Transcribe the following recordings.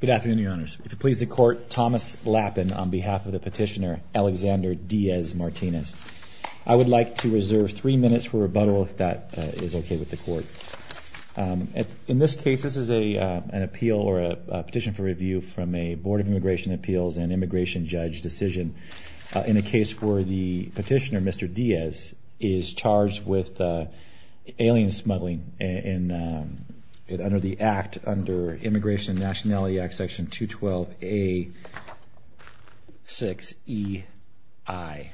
Good afternoon, your honors. It pleases the court, Thomas Lappin on behalf of the petitioner Alexander Diaz Martinez. I would like to reserve three minutes for rebuttal if that is okay with the court. In this case, this is an appeal or a petition for review from a Board of Immigration Appeals and Immigration Judge decision in a case where the petitioner, Mr. Diaz, is charged with alien smuggling under the Act, under Immigration and Nationality Act, Section 212A6EI.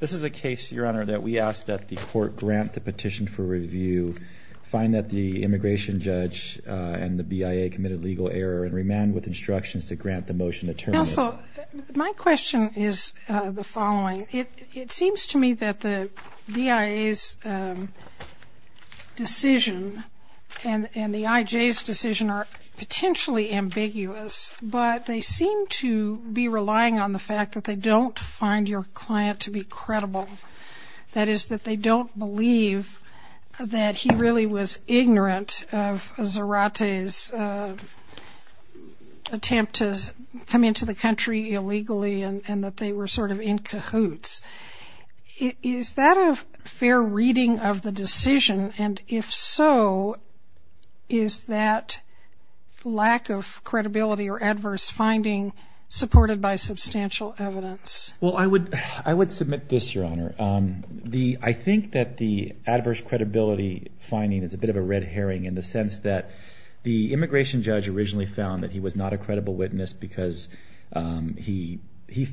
This is a case, your honor, that we ask that the court grant the petition for review, find that the immigration judge and the BIA committed legal error, and remand with instructions to grant the motion to terminate. Counsel, my question is the following. It seems to me that the BIA's decision and the IJ's decision are potentially ambiguous, but they seem to be relying on the fact that they don't find your client to be credible. That is, that they don't believe that he really was ignorant of Zarate's attempt to come into the country illegally and that they were sort of in cahoots. Is that a fair reading of the decision? And if so, is that lack of credibility or adverse finding supported by substantial evidence? Well, I would submit this, your honor. I think that the adverse credibility finding is a bit of a red herring in the sense that the immigration judge originally found that he was not a credible witness because he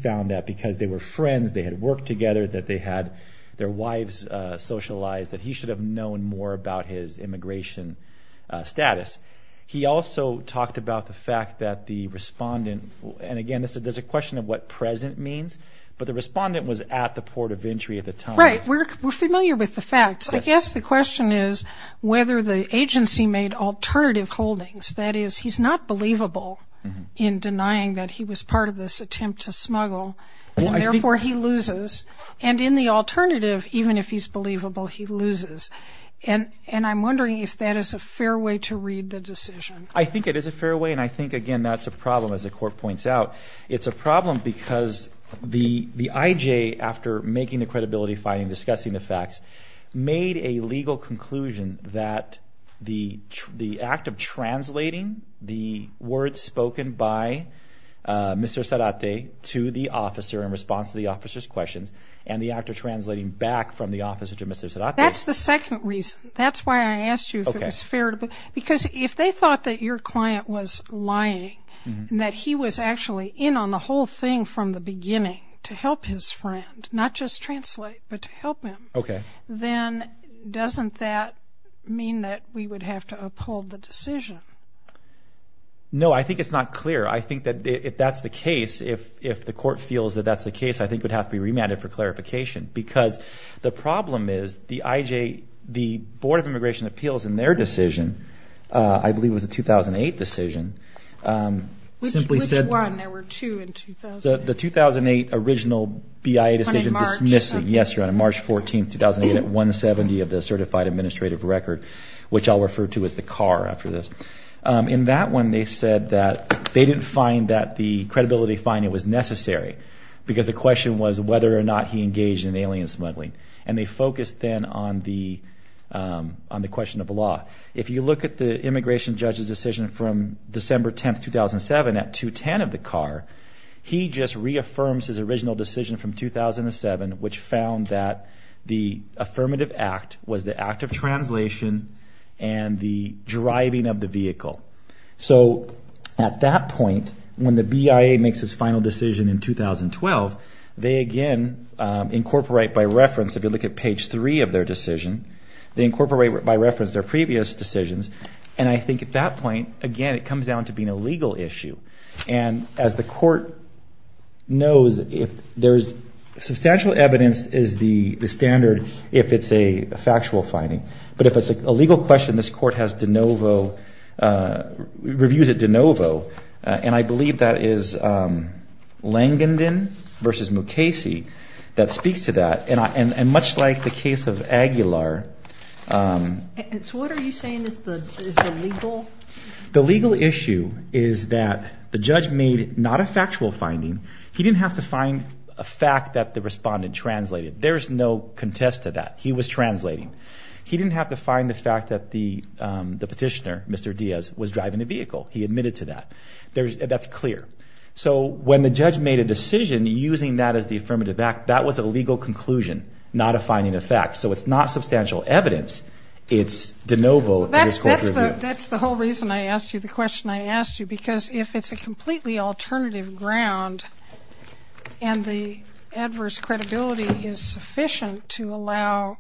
found that because they were friends, they had worked together, that they had their wives socialized, that he should have known more about his immigration status. He also talked about the fact that the respondent, and again, there's a question of what present means, but the respondent was at the port of entry at the time. Right. We're familiar with the facts. I guess the question is whether the agency made alternative holdings. That is, he's not believable in denying that he was part of this attempt to smuggle, and therefore he loses. And in the alternative, even if he's believable, he loses. And I'm wondering if that is a fair way to read the decision. I think it is a fair way, and I think, again, that's a problem, as the court points out. It's a problem because the IJ, after making the credibility finding, discussing the facts, made a legal conclusion that the act of translating the words spoken by Mr. Sarate to the officer in response to the officer's questions and the act of translating back from the officer to Mr. Sarate. That's the second reason. That's why I asked you if it was fair. Because if they thought that your client was lying and that he was actually in on the whole thing from the beginning to help his friend, not just translate, but to help him, then doesn't that mean that we would have to uphold the decision? No, I think it's not clear. I think that if that's the case, if the court feels that that's the case, I think it would have to be remanded for clarification. Because the problem is the IJ, the Board of Immigration Appeals in their decision, I believe it was a 2008 decision, simply said. Which one? There were two in 2008. The 2008 original BIA decision dismissing. Yes, Your Honor, March 14th, 2008, at 170 of the certified administrative record, which I'll refer to as the CAR after this. In that one, they said that they didn't find that the credibility finding was necessary because the question was whether or not he engaged in alien smuggling. And they focused then on the question of the law. If you look at the immigration judge's decision from December 10th, 2007, at 210 of the CAR, he just reaffirms his original decision from 2007, which found that the affirmative act was the act of translation and the driving of the vehicle. So at that point, when the BIA makes its final decision in 2012, they again incorporate by reference, if you look at page 3 of their decision, they incorporate by reference their previous decisions. And I think at that point, again, it comes down to being a legal issue. And as the court knows, substantial evidence is the standard if it's a factual finding. But if it's a legal question, this court has de novo, reviews it de novo. And I believe that is Langenden v. Mukasey that speaks to that. And much like the case of Aguilar. So what are you saying is the legal? The legal issue is that the judge made not a factual finding. He didn't have to find a fact that the respondent translated. There's no contest to that. He was translating. He didn't have to find the fact that the petitioner, Mr. Diaz, was driving a vehicle. He admitted to that. That's clear. So when the judge made a decision using that as the affirmative act, that was a legal conclusion, not a finding of fact. So it's not substantial evidence. It's de novo. That's the whole reason I asked you the question I asked you, because if it's a completely alternative ground and the adverse credibility is sufficient to allow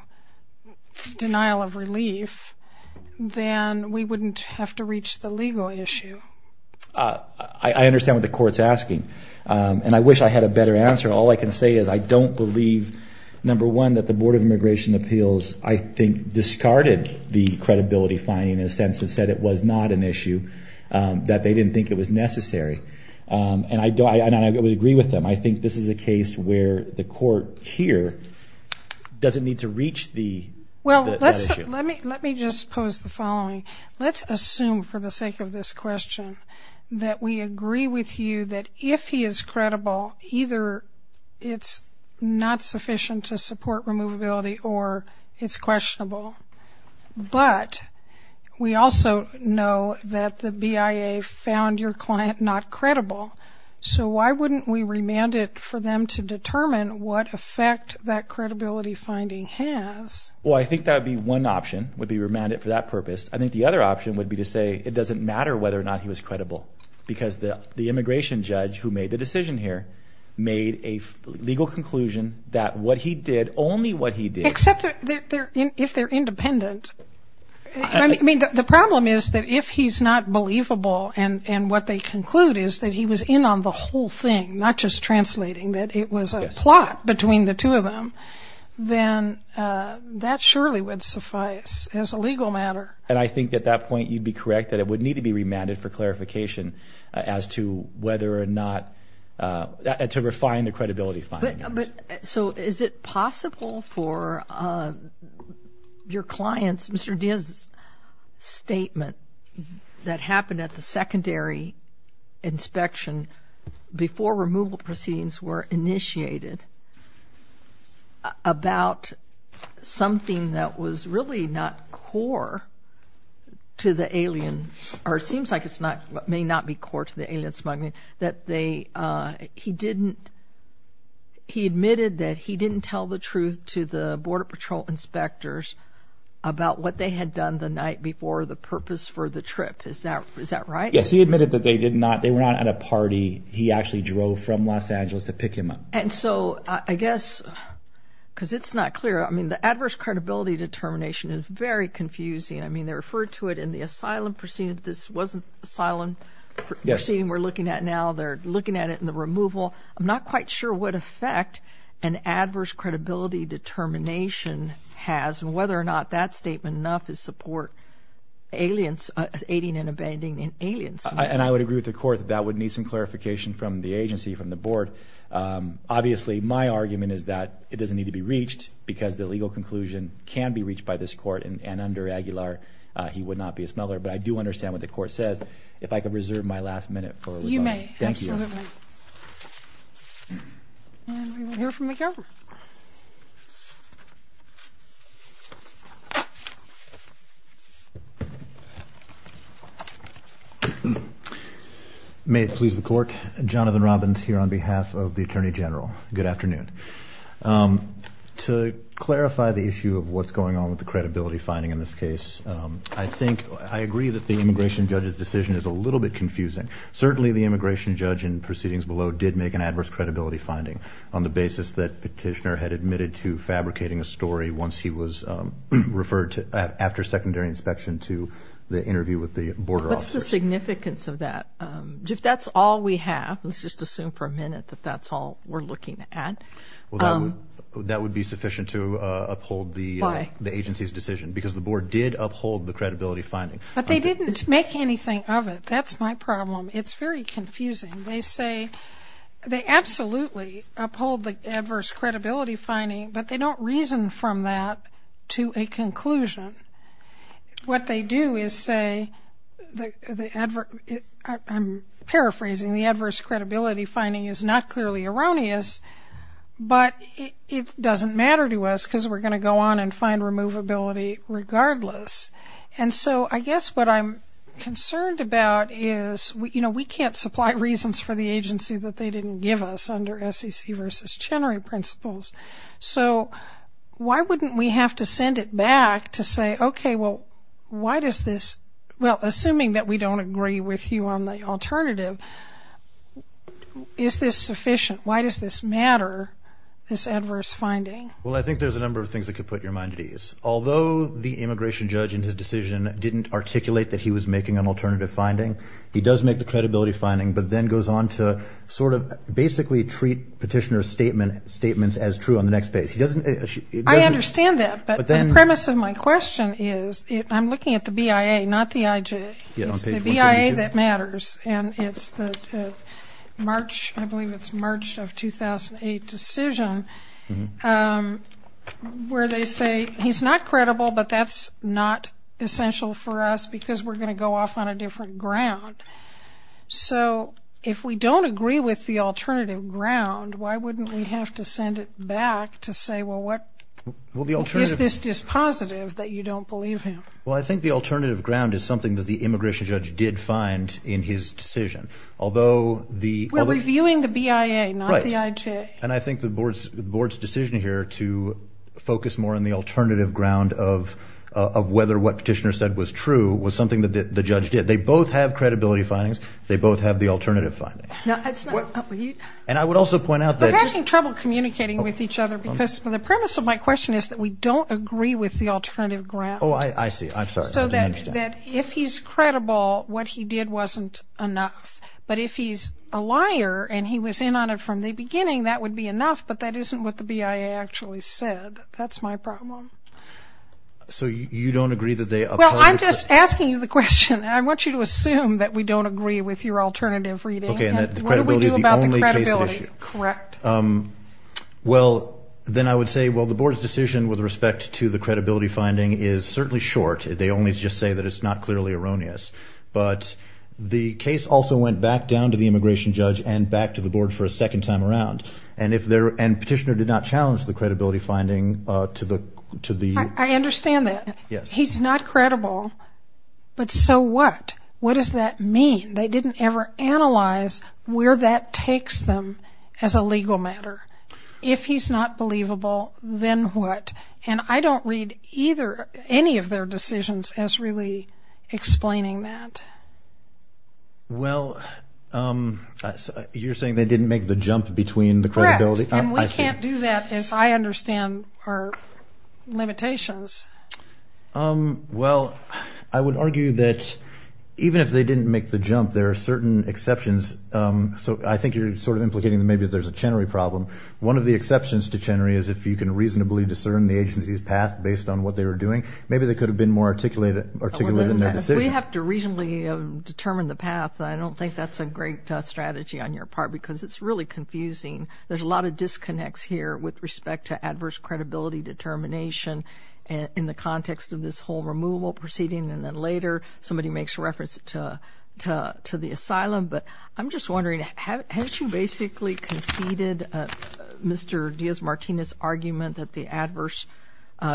denial of relief, then we wouldn't have to reach the legal issue. I understand what the court's asking. And I wish I had a better answer. All I can say is I don't believe, number one, that the Board of Immigration Appeals, I think, discarded the credibility finding in a sense that said it was not an issue, that they didn't think it was necessary. And I would agree with them. I think this is a case where the court here doesn't need to reach that issue. Well, let me just pose the following. Let's assume for the sake of this question that we agree with you that if he is credible, either it's not sufficient to support removability or it's questionable, but we also know that the BIA found your client not credible. So why wouldn't we remand it for them to determine what effect that credibility finding has? Well, I think that would be one option, would be remand it for that purpose. I think the other option would be to say it doesn't matter whether or not he was credible, because the immigration judge who made the decision here made a legal conclusion that what he did, only what he did. Except if they're independent. I mean, the problem is that if he's not believable and what they conclude is that he was in on the whole thing, not just translating, that it was a plot between the two of them, then that surely would suffice as a legal matter. And I think at that point you'd be correct that it would need to be remanded for clarification as to whether or not to refine the credibility finding. So is it possible for your clients, Mr. Diaz's statement, that happened at the secondary inspection before removal proceedings were initiated, about something that was really not core to the alien, or it seems like it may not be core to the alien smuggling, that he admitted that he didn't tell the truth to the Border Patrol inspectors about what they had done the night before the purpose for the trip. Is that right? Yes, he admitted that they were not at a party. He actually drove from Los Angeles to pick him up. And so I guess, because it's not clear, I mean the adverse credibility determination is very confusing. I mean, they referred to it in the asylum proceedings. This wasn't asylum proceedings we're looking at now. They're looking at it in the removal. I'm not quite sure what effect an adverse credibility determination has and whether or not that statement enough to support aiding and abandoning aliens. And I would agree with the Court that that would need some clarification from the agency, from the Board. Obviously, my argument is that it doesn't need to be reached because the legal conclusion can be reached by this Court, and under Aguilar he would not be a smuggler. But I do understand what the Court says. If I could reserve my last minute for rebuttal. You may, absolutely. Thank you. And we will hear from the Court. May it please the Court. Jonathan Robbins here on behalf of the Attorney General. Good afternoon. To clarify the issue of what's going on with the credibility finding in this case, I think I agree that the immigration judge's decision is a little bit confusing. Certainly the immigration judge in proceedings below did make an adverse credibility finding on the basis that Petitioner had admitted to fabricating a story once he was referred to, after secondary inspection, to the interview with the border officer. What's the significance of that? If that's all we have, let's just assume for a minute that that's all we're looking at. Well, that would be sufficient to uphold the agency's decision because the board did uphold the credibility finding. But they didn't make anything of it. That's my problem. It's very confusing. They say they absolutely uphold the adverse credibility finding, but they don't reason from that to a conclusion. What they do is say the adverse, I'm paraphrasing, the adverse credibility finding is not clearly erroneous, but it doesn't matter to us because we're going to go on and find removability regardless. And so I guess what I'm concerned about is, you know, we can't supply reasons for the agency that they didn't give us under SEC versus Chenery principles. So why wouldn't we have to send it back to say, okay, well, why does this, well, assuming that we don't agree with you on the alternative, is this sufficient? Why does this matter, this adverse finding? Well, I think there's a number of things that could put your mind at ease. Although the immigration judge in his decision didn't articulate that he was making an alternative finding, he does make the credibility finding, but then goes on to sort of basically treat petitioner's statements as true on the next base. I understand that, but the premise of my question is I'm looking at the BIA, not the IJ. It's the BIA that matters. And it's the March, I believe it's March of 2008 decision where they say he's not credible, but that's not essential for us because we're going to go off on a different ground. So if we don't agree with the alternative ground, why wouldn't we have to send it back to say, well, what is this dispositive that you don't believe him? Well, I think the alternative ground is something that the immigration judge did find in his decision. Although the – We're reviewing the BIA, not the IJ. Right. And I think the board's decision here to focus more on the alternative ground of whether what petitioner said was true was something that the judge did. They both have credibility findings. They both have the alternative finding. And I would also point out that – We're having trouble communicating with each other because the premise of my question is that we don't agree with the alternative ground. Oh, I see. I'm sorry. I didn't understand. So that if he's credible, what he did wasn't enough. But if he's a liar and he was in on it from the beginning, that would be enough, but that isn't what the BIA actually said. That's my problem. So you don't agree that they upheld the – Well, I'm just asking you the question. I want you to assume that we don't agree with your alternative reading. Okay. And that the credibility is the only case at issue. What do we do about the credibility? Correct. Well, then I would say, well, the board's decision with respect to the credibility finding is certainly short. They only just say that it's not clearly erroneous. But the case also went back down to the immigration judge and back to the board for a second time around. And petitioner did not challenge the credibility finding to the – I understand that. Yes. He's not credible, but so what? What does that mean? They didn't ever analyze where that takes them as a legal matter. If he's not believable, then what? And I don't read either – any of their decisions as really explaining that. Well, you're saying they didn't make the jump between the credibility? Correct. And we can't do that as I understand our limitations. Well, I would argue that even if they didn't make the jump, there are certain exceptions. So I think you're sort of implicating that maybe there's a Chenery problem. One of the exceptions to Chenery is if you can reasonably discern the agency's path based on what they were doing. Maybe they could have been more articulate in their decision. If we have to reasonably determine the path, I don't think that's a great strategy on your part because it's really confusing. There's a lot of disconnects here with respect to adverse credibility determination in the context of this whole removal proceeding. And then later somebody makes reference to the asylum. But I'm just wondering, haven't you basically conceded Mr. Diaz-Martinez's argument that the adverse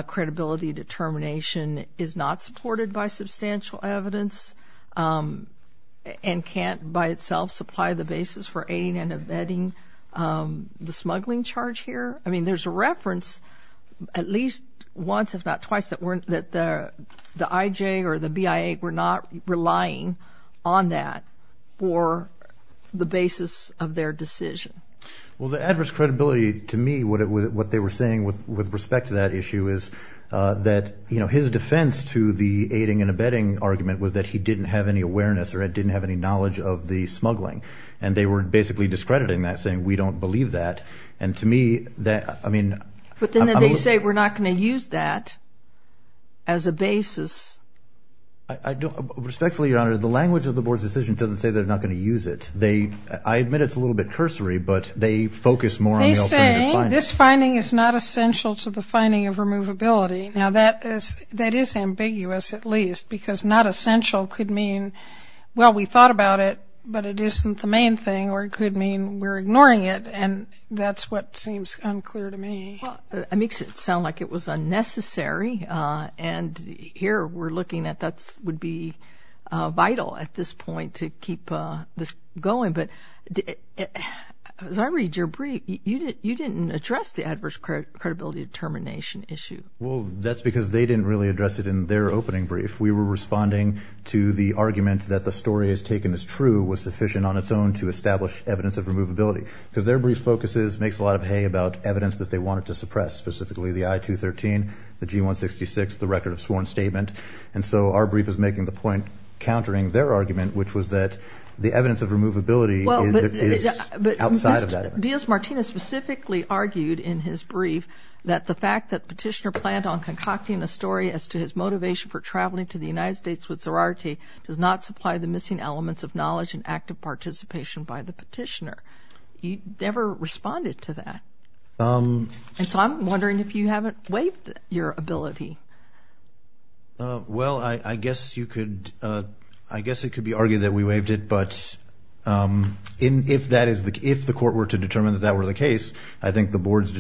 credibility determination is not supported by substantial evidence and can't by itself supply the basis for aiding and abetting the smuggling charge here? I mean, there's a reference at least once, if not twice, that the IJ or the BIA were not relying on that for the basis of their decision. Well, the adverse credibility, to me, what they were saying with respect to that issue is that, you know, his defense to the aiding and abetting argument was that he didn't have any awareness or didn't have any knowledge of the smuggling. And they were basically discrediting that, saying we don't believe that. And to me, that I mean. But then they say we're not going to use that as a basis. I don't. Respectfully, Your Honor, the language of the board's decision doesn't say they're not going to use it. I admit it's a little bit cursory, but they focus more on the ultimate finding. They say this finding is not essential to the finding of removability. Now, that is ambiguous, at least, because not essential could mean, well, we thought about it, but it isn't the main thing or it could mean we're ignoring it. And that's what seems unclear to me. It makes it sound like it was unnecessary. And here we're looking at that would be vital at this point to keep this going. But as I read your brief, you didn't address the adverse credibility determination issue. Well, that's because they didn't really address it in their opening brief. We were responding to the argument that the story as taken as true was sufficient on its own to establish evidence of removability. Because their brief focuses makes a lot of hay about evidence that they wanted to suppress, specifically the I-213, the G-166, the record of sworn statement. And so our brief is making the point, countering their argument, which was that the evidence of removability is outside of that evidence. Diaz-Martinez specifically argued in his brief that the fact that petitioner planned on concocting a story as to his motivation for traveling to the United States with sorority does not supply the missing elements of knowledge and active participation by the petitioner. You never responded to that. And so I'm wondering if you haven't waived your ability. Well, I guess it could be argued that we waived it. But if the court were to determine that that were the case, I think the board's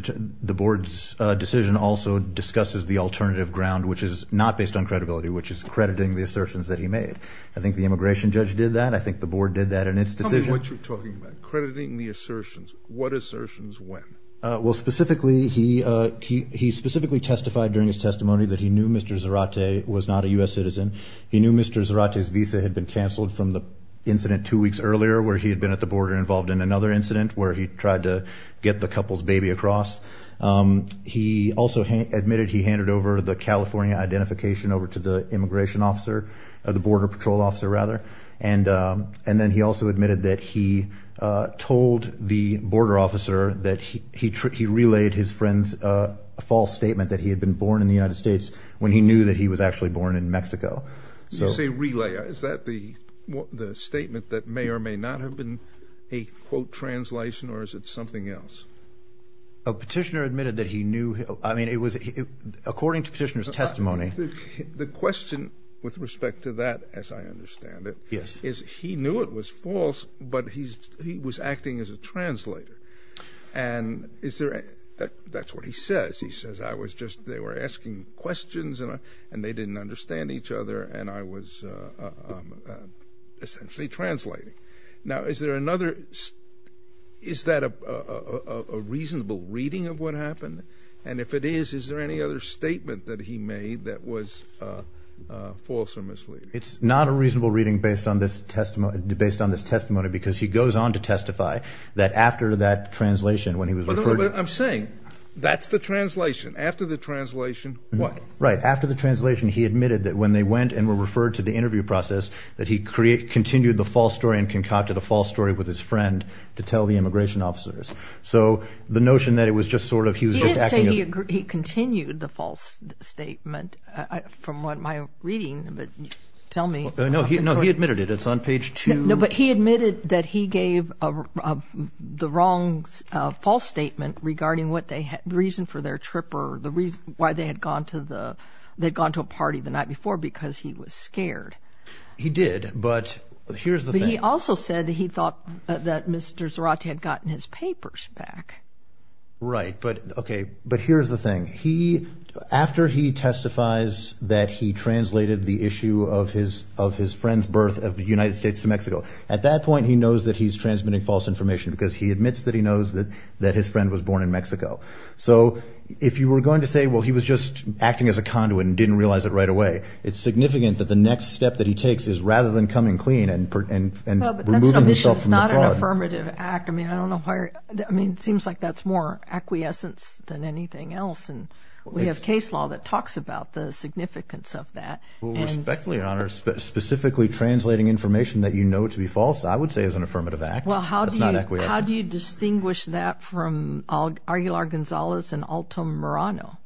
decision also discusses the alternative ground, which is not based on credibility, which is crediting the assertions that he made. I think the immigration judge did that. I think the board did that in its decision. Tell me what you're talking about, crediting the assertions. What assertions when? Well, specifically, he specifically testified during his testimony that he knew Mr. Zarate was not a U.S. citizen. He knew Mr. Zarate's visa had been canceled from the incident two weeks earlier where he had been at the border involved in another incident where he tried to get the couple's baby across. He also admitted he handed over the California identification over to the immigration officer, the border patrol officer, rather. And then he also admitted that he told the border officer that he relayed his friend's false statement that he had been born in the United States when he knew that he was actually born in Mexico. You say relay. Is that the statement that may or may not have been a quote translation, or is it something else? A petitioner admitted that he knew. The question with respect to that, as I understand it, is he knew it was false, but he was acting as a translator. And that's what he says. He says they were asking questions, and they didn't understand each other, and I was essentially translating. Now, is that a reasonable reading of what happened? And if it is, is there any other statement that he made that was false or misleading? It's not a reasonable reading based on this testimony because he goes on to testify that after that translation when he was referred to. I'm saying that's the translation. After the translation, what? Right. After the translation, he admitted that when they went and were referred to the interview process, that he continued the false story and concocted a false story with his friend to tell the immigration officers. So the notion that it was just sort of he was just acting as – He did say he continued the false statement from my reading, but tell me – No, he admitted it. It's on page two. No, but he admitted that he gave the wrong false statement regarding what they – the reason for their trip or the reason why they had gone to the – they had gone to a party the night before because he was scared. He did, but here's the thing. He also said that he thought that Mr. Zarate had gotten his papers back. Right, but, okay, but here's the thing. He – after he testifies that he translated the issue of his friend's birth of the United States to Mexico, at that point he knows that he's transmitting false information because he admits that he knows that his friend was born in Mexico. So if you were going to say, well, he was just acting as a conduit and didn't realize it right away, it's significant that the next step that he takes is rather than coming clean and removing himself from the fraud – No, but that's not an affirmative act. I mean, I don't know why – I mean, it seems like that's more acquiescence than anything else, and we have case law that talks about the significance of that. Well, respectfully, Your Honor, specifically translating information that you know to be false I would say is an affirmative act. Well, how do you – That's not acquiescence. How do you distinguish that from Arguilar-Gonzalez and Alto Morano?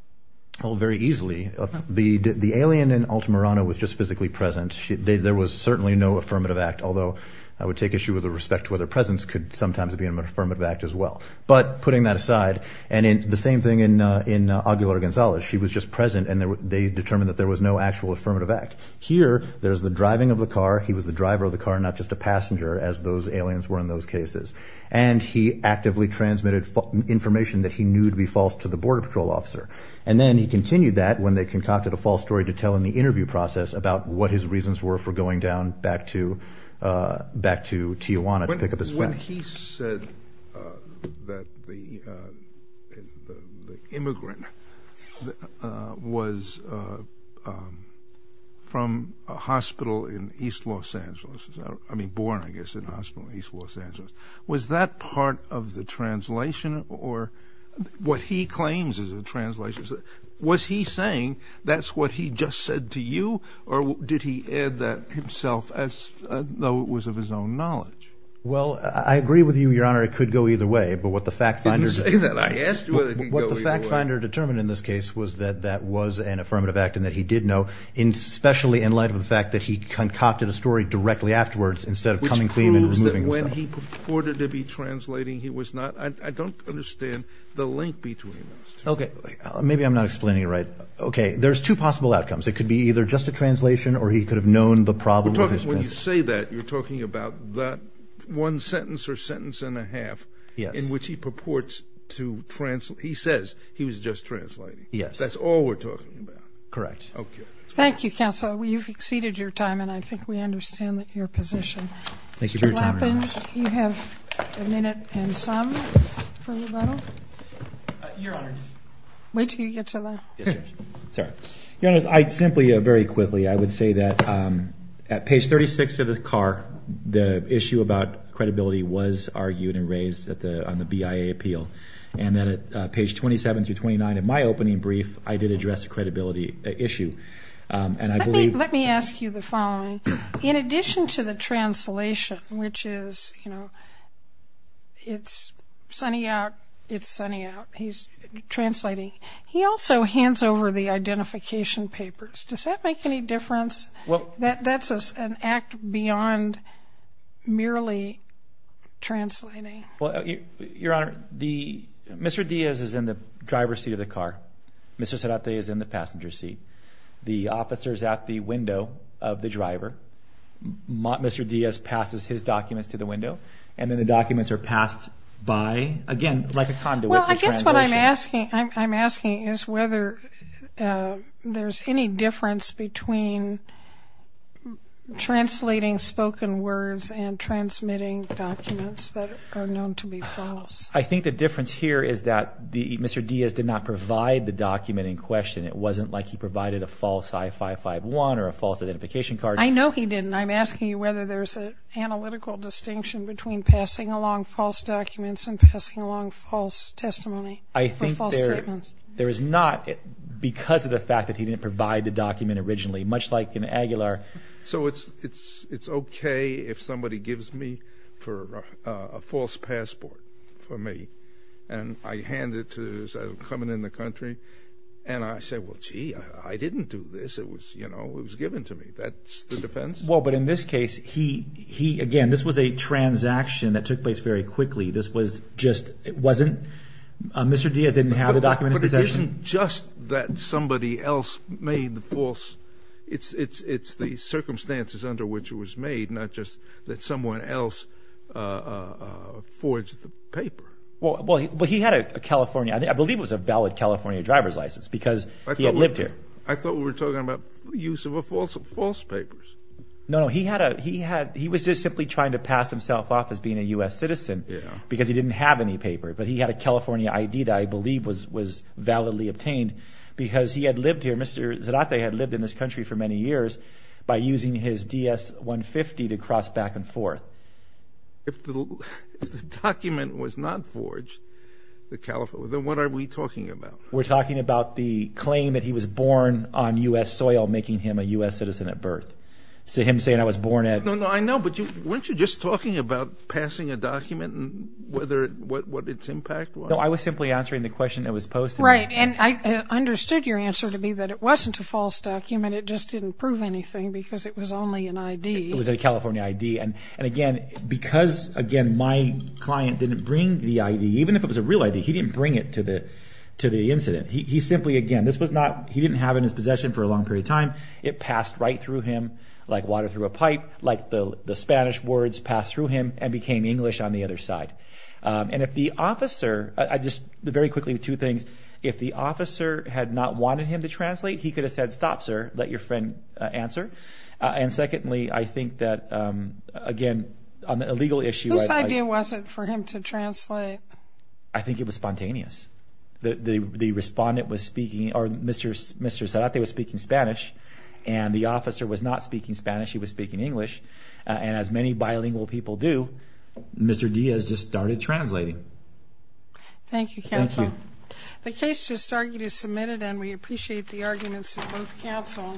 Well, very easily. The alien in Alto Morano was just physically present. There was certainly no affirmative act, although I would take issue with the respect to whether presence could sometimes be an affirmative act as well. But putting that aside, and the same thing in Arguilar-Gonzalez. She was just present, and they determined that there was no actual affirmative act. Here, there's the driving of the car. He was the driver of the car, not just a passenger, as those aliens were in those cases. And he actively transmitted information that he knew to be false to the Border Patrol officer. And then he continued that when they concocted a false story to tell in the interview process about what his reasons were for going down back to Tijuana to pick up his bag. When he said that the immigrant was from a hospital in East Los Angeles, I mean born, I guess, in a hospital in East Los Angeles, was that part of the translation, or what he claims is a translation? Was he saying that's what he just said to you, or did he add that himself as though it was of his own knowledge? Well, I agree with you, Your Honor. It could go either way, but what the fact finder determined in this case was that that was an affirmative act and that he did know, especially in light of the fact that he concocted a story directly afterwards instead of coming clean and removing himself. Which proves that when he purported to be translating, he was not. I don't understand the link between those two. Okay. Maybe I'm not explaining it right. Okay. There's two possible outcomes. It could be either just a translation, or he could have known the problem with his pronunciation. When you say that, you're talking about that one sentence or sentence and a half in which he purports to translate. He says he was just translating. Yes. That's all we're talking about. Correct. Okay. Thank you, counsel. You've exceeded your time, and I think we understand your position. Thank you for your time, Your Honor. Mr. Lappin, you have a minute and some for rebuttal. Your Honor. Wait until you get to that. Sorry. Your Honor, I'd simply very quickly, I would say that at page 36 of the CAR, the issue about credibility was argued and raised on the BIA appeal, and then at page 27 through 29 of my opening brief, I did address the credibility issue. Let me ask you the following. In addition to the translation, which is, you know, it's sunny out, it's sunny out, he's translating, he also hands over the identification papers. Does that make any difference? That's an act beyond merely translating. Well, Your Honor, Mr. Diaz is in the driver's seat of the car. Mr. Cerate is in the passenger's seat. The officer is at the window of the driver. Mr. Diaz passes his documents to the window, and then the documents are passed by, again, like a conduit. Well, I guess what I'm asking is whether there's any difference between translating spoken words and transmitting documents that are known to be false. I think the difference here is that Mr. Diaz did not provide the document in question. It wasn't like he provided a false I-551 or a false identification card. I know he didn't. I'm asking you whether there's an analytical distinction between passing along false documents and passing along false testimony or false statements. I think there is not because of the fact that he didn't provide the document originally, much like in Aguilar. So it's okay if somebody gives me a false passport for me, and I hand it to them as I'm coming in the country, and I say, well, gee, I didn't do this. It was given to me. That's the defense? Well, but in this case, again, this was a transaction that took place very quickly. This was just Mr. Diaz didn't have the document in possession. It isn't just that somebody else made the false. It's the circumstances under which it was made, not just that someone else forged the paper. Well, he had a California – I believe it was a valid California driver's license because he had lived here. I thought we were talking about use of false papers. No, no. He was just simply trying to pass himself off as being a U.S. citizen because he didn't have any paper. But he had a California ID that I believe was validly obtained because he had lived here. Mr. Zarate had lived in this country for many years by using his DS-150 to cross back and forth. If the document was not forged, then what are we talking about? We're talking about the claim that he was born on U.S. soil, making him a U.S. citizen at birth. So him saying I was born at – I know, but weren't you just talking about passing a document and what its impact was? No, I was simply answering the question that was posed to me. Right, and I understood your answer to me that it wasn't a false document. It just didn't prove anything because it was only an ID. It was a California ID. And again, because, again, my client didn't bring the ID, even if it was a real ID, he didn't bring it to the incident. He simply, again, this was not – he didn't have it in his possession for a long period of time. It passed right through him like water through a pipe, like the Spanish words passed through him and became English on the other side. And if the officer – just very quickly, two things. If the officer had not wanted him to translate, he could have said, stop, sir, let your friend answer. And secondly, I think that, again, on a legal issue – Whose idea was it for him to translate? I think it was spontaneous. The respondent was speaking – or Mr. Zarate was speaking Spanish and the officer was not speaking Spanish. He was speaking English. And as many bilingual people do, Mr. Diaz just started translating. Thank you, counsel. Thank you. The case just argued is submitted and we appreciate the arguments of both counsel.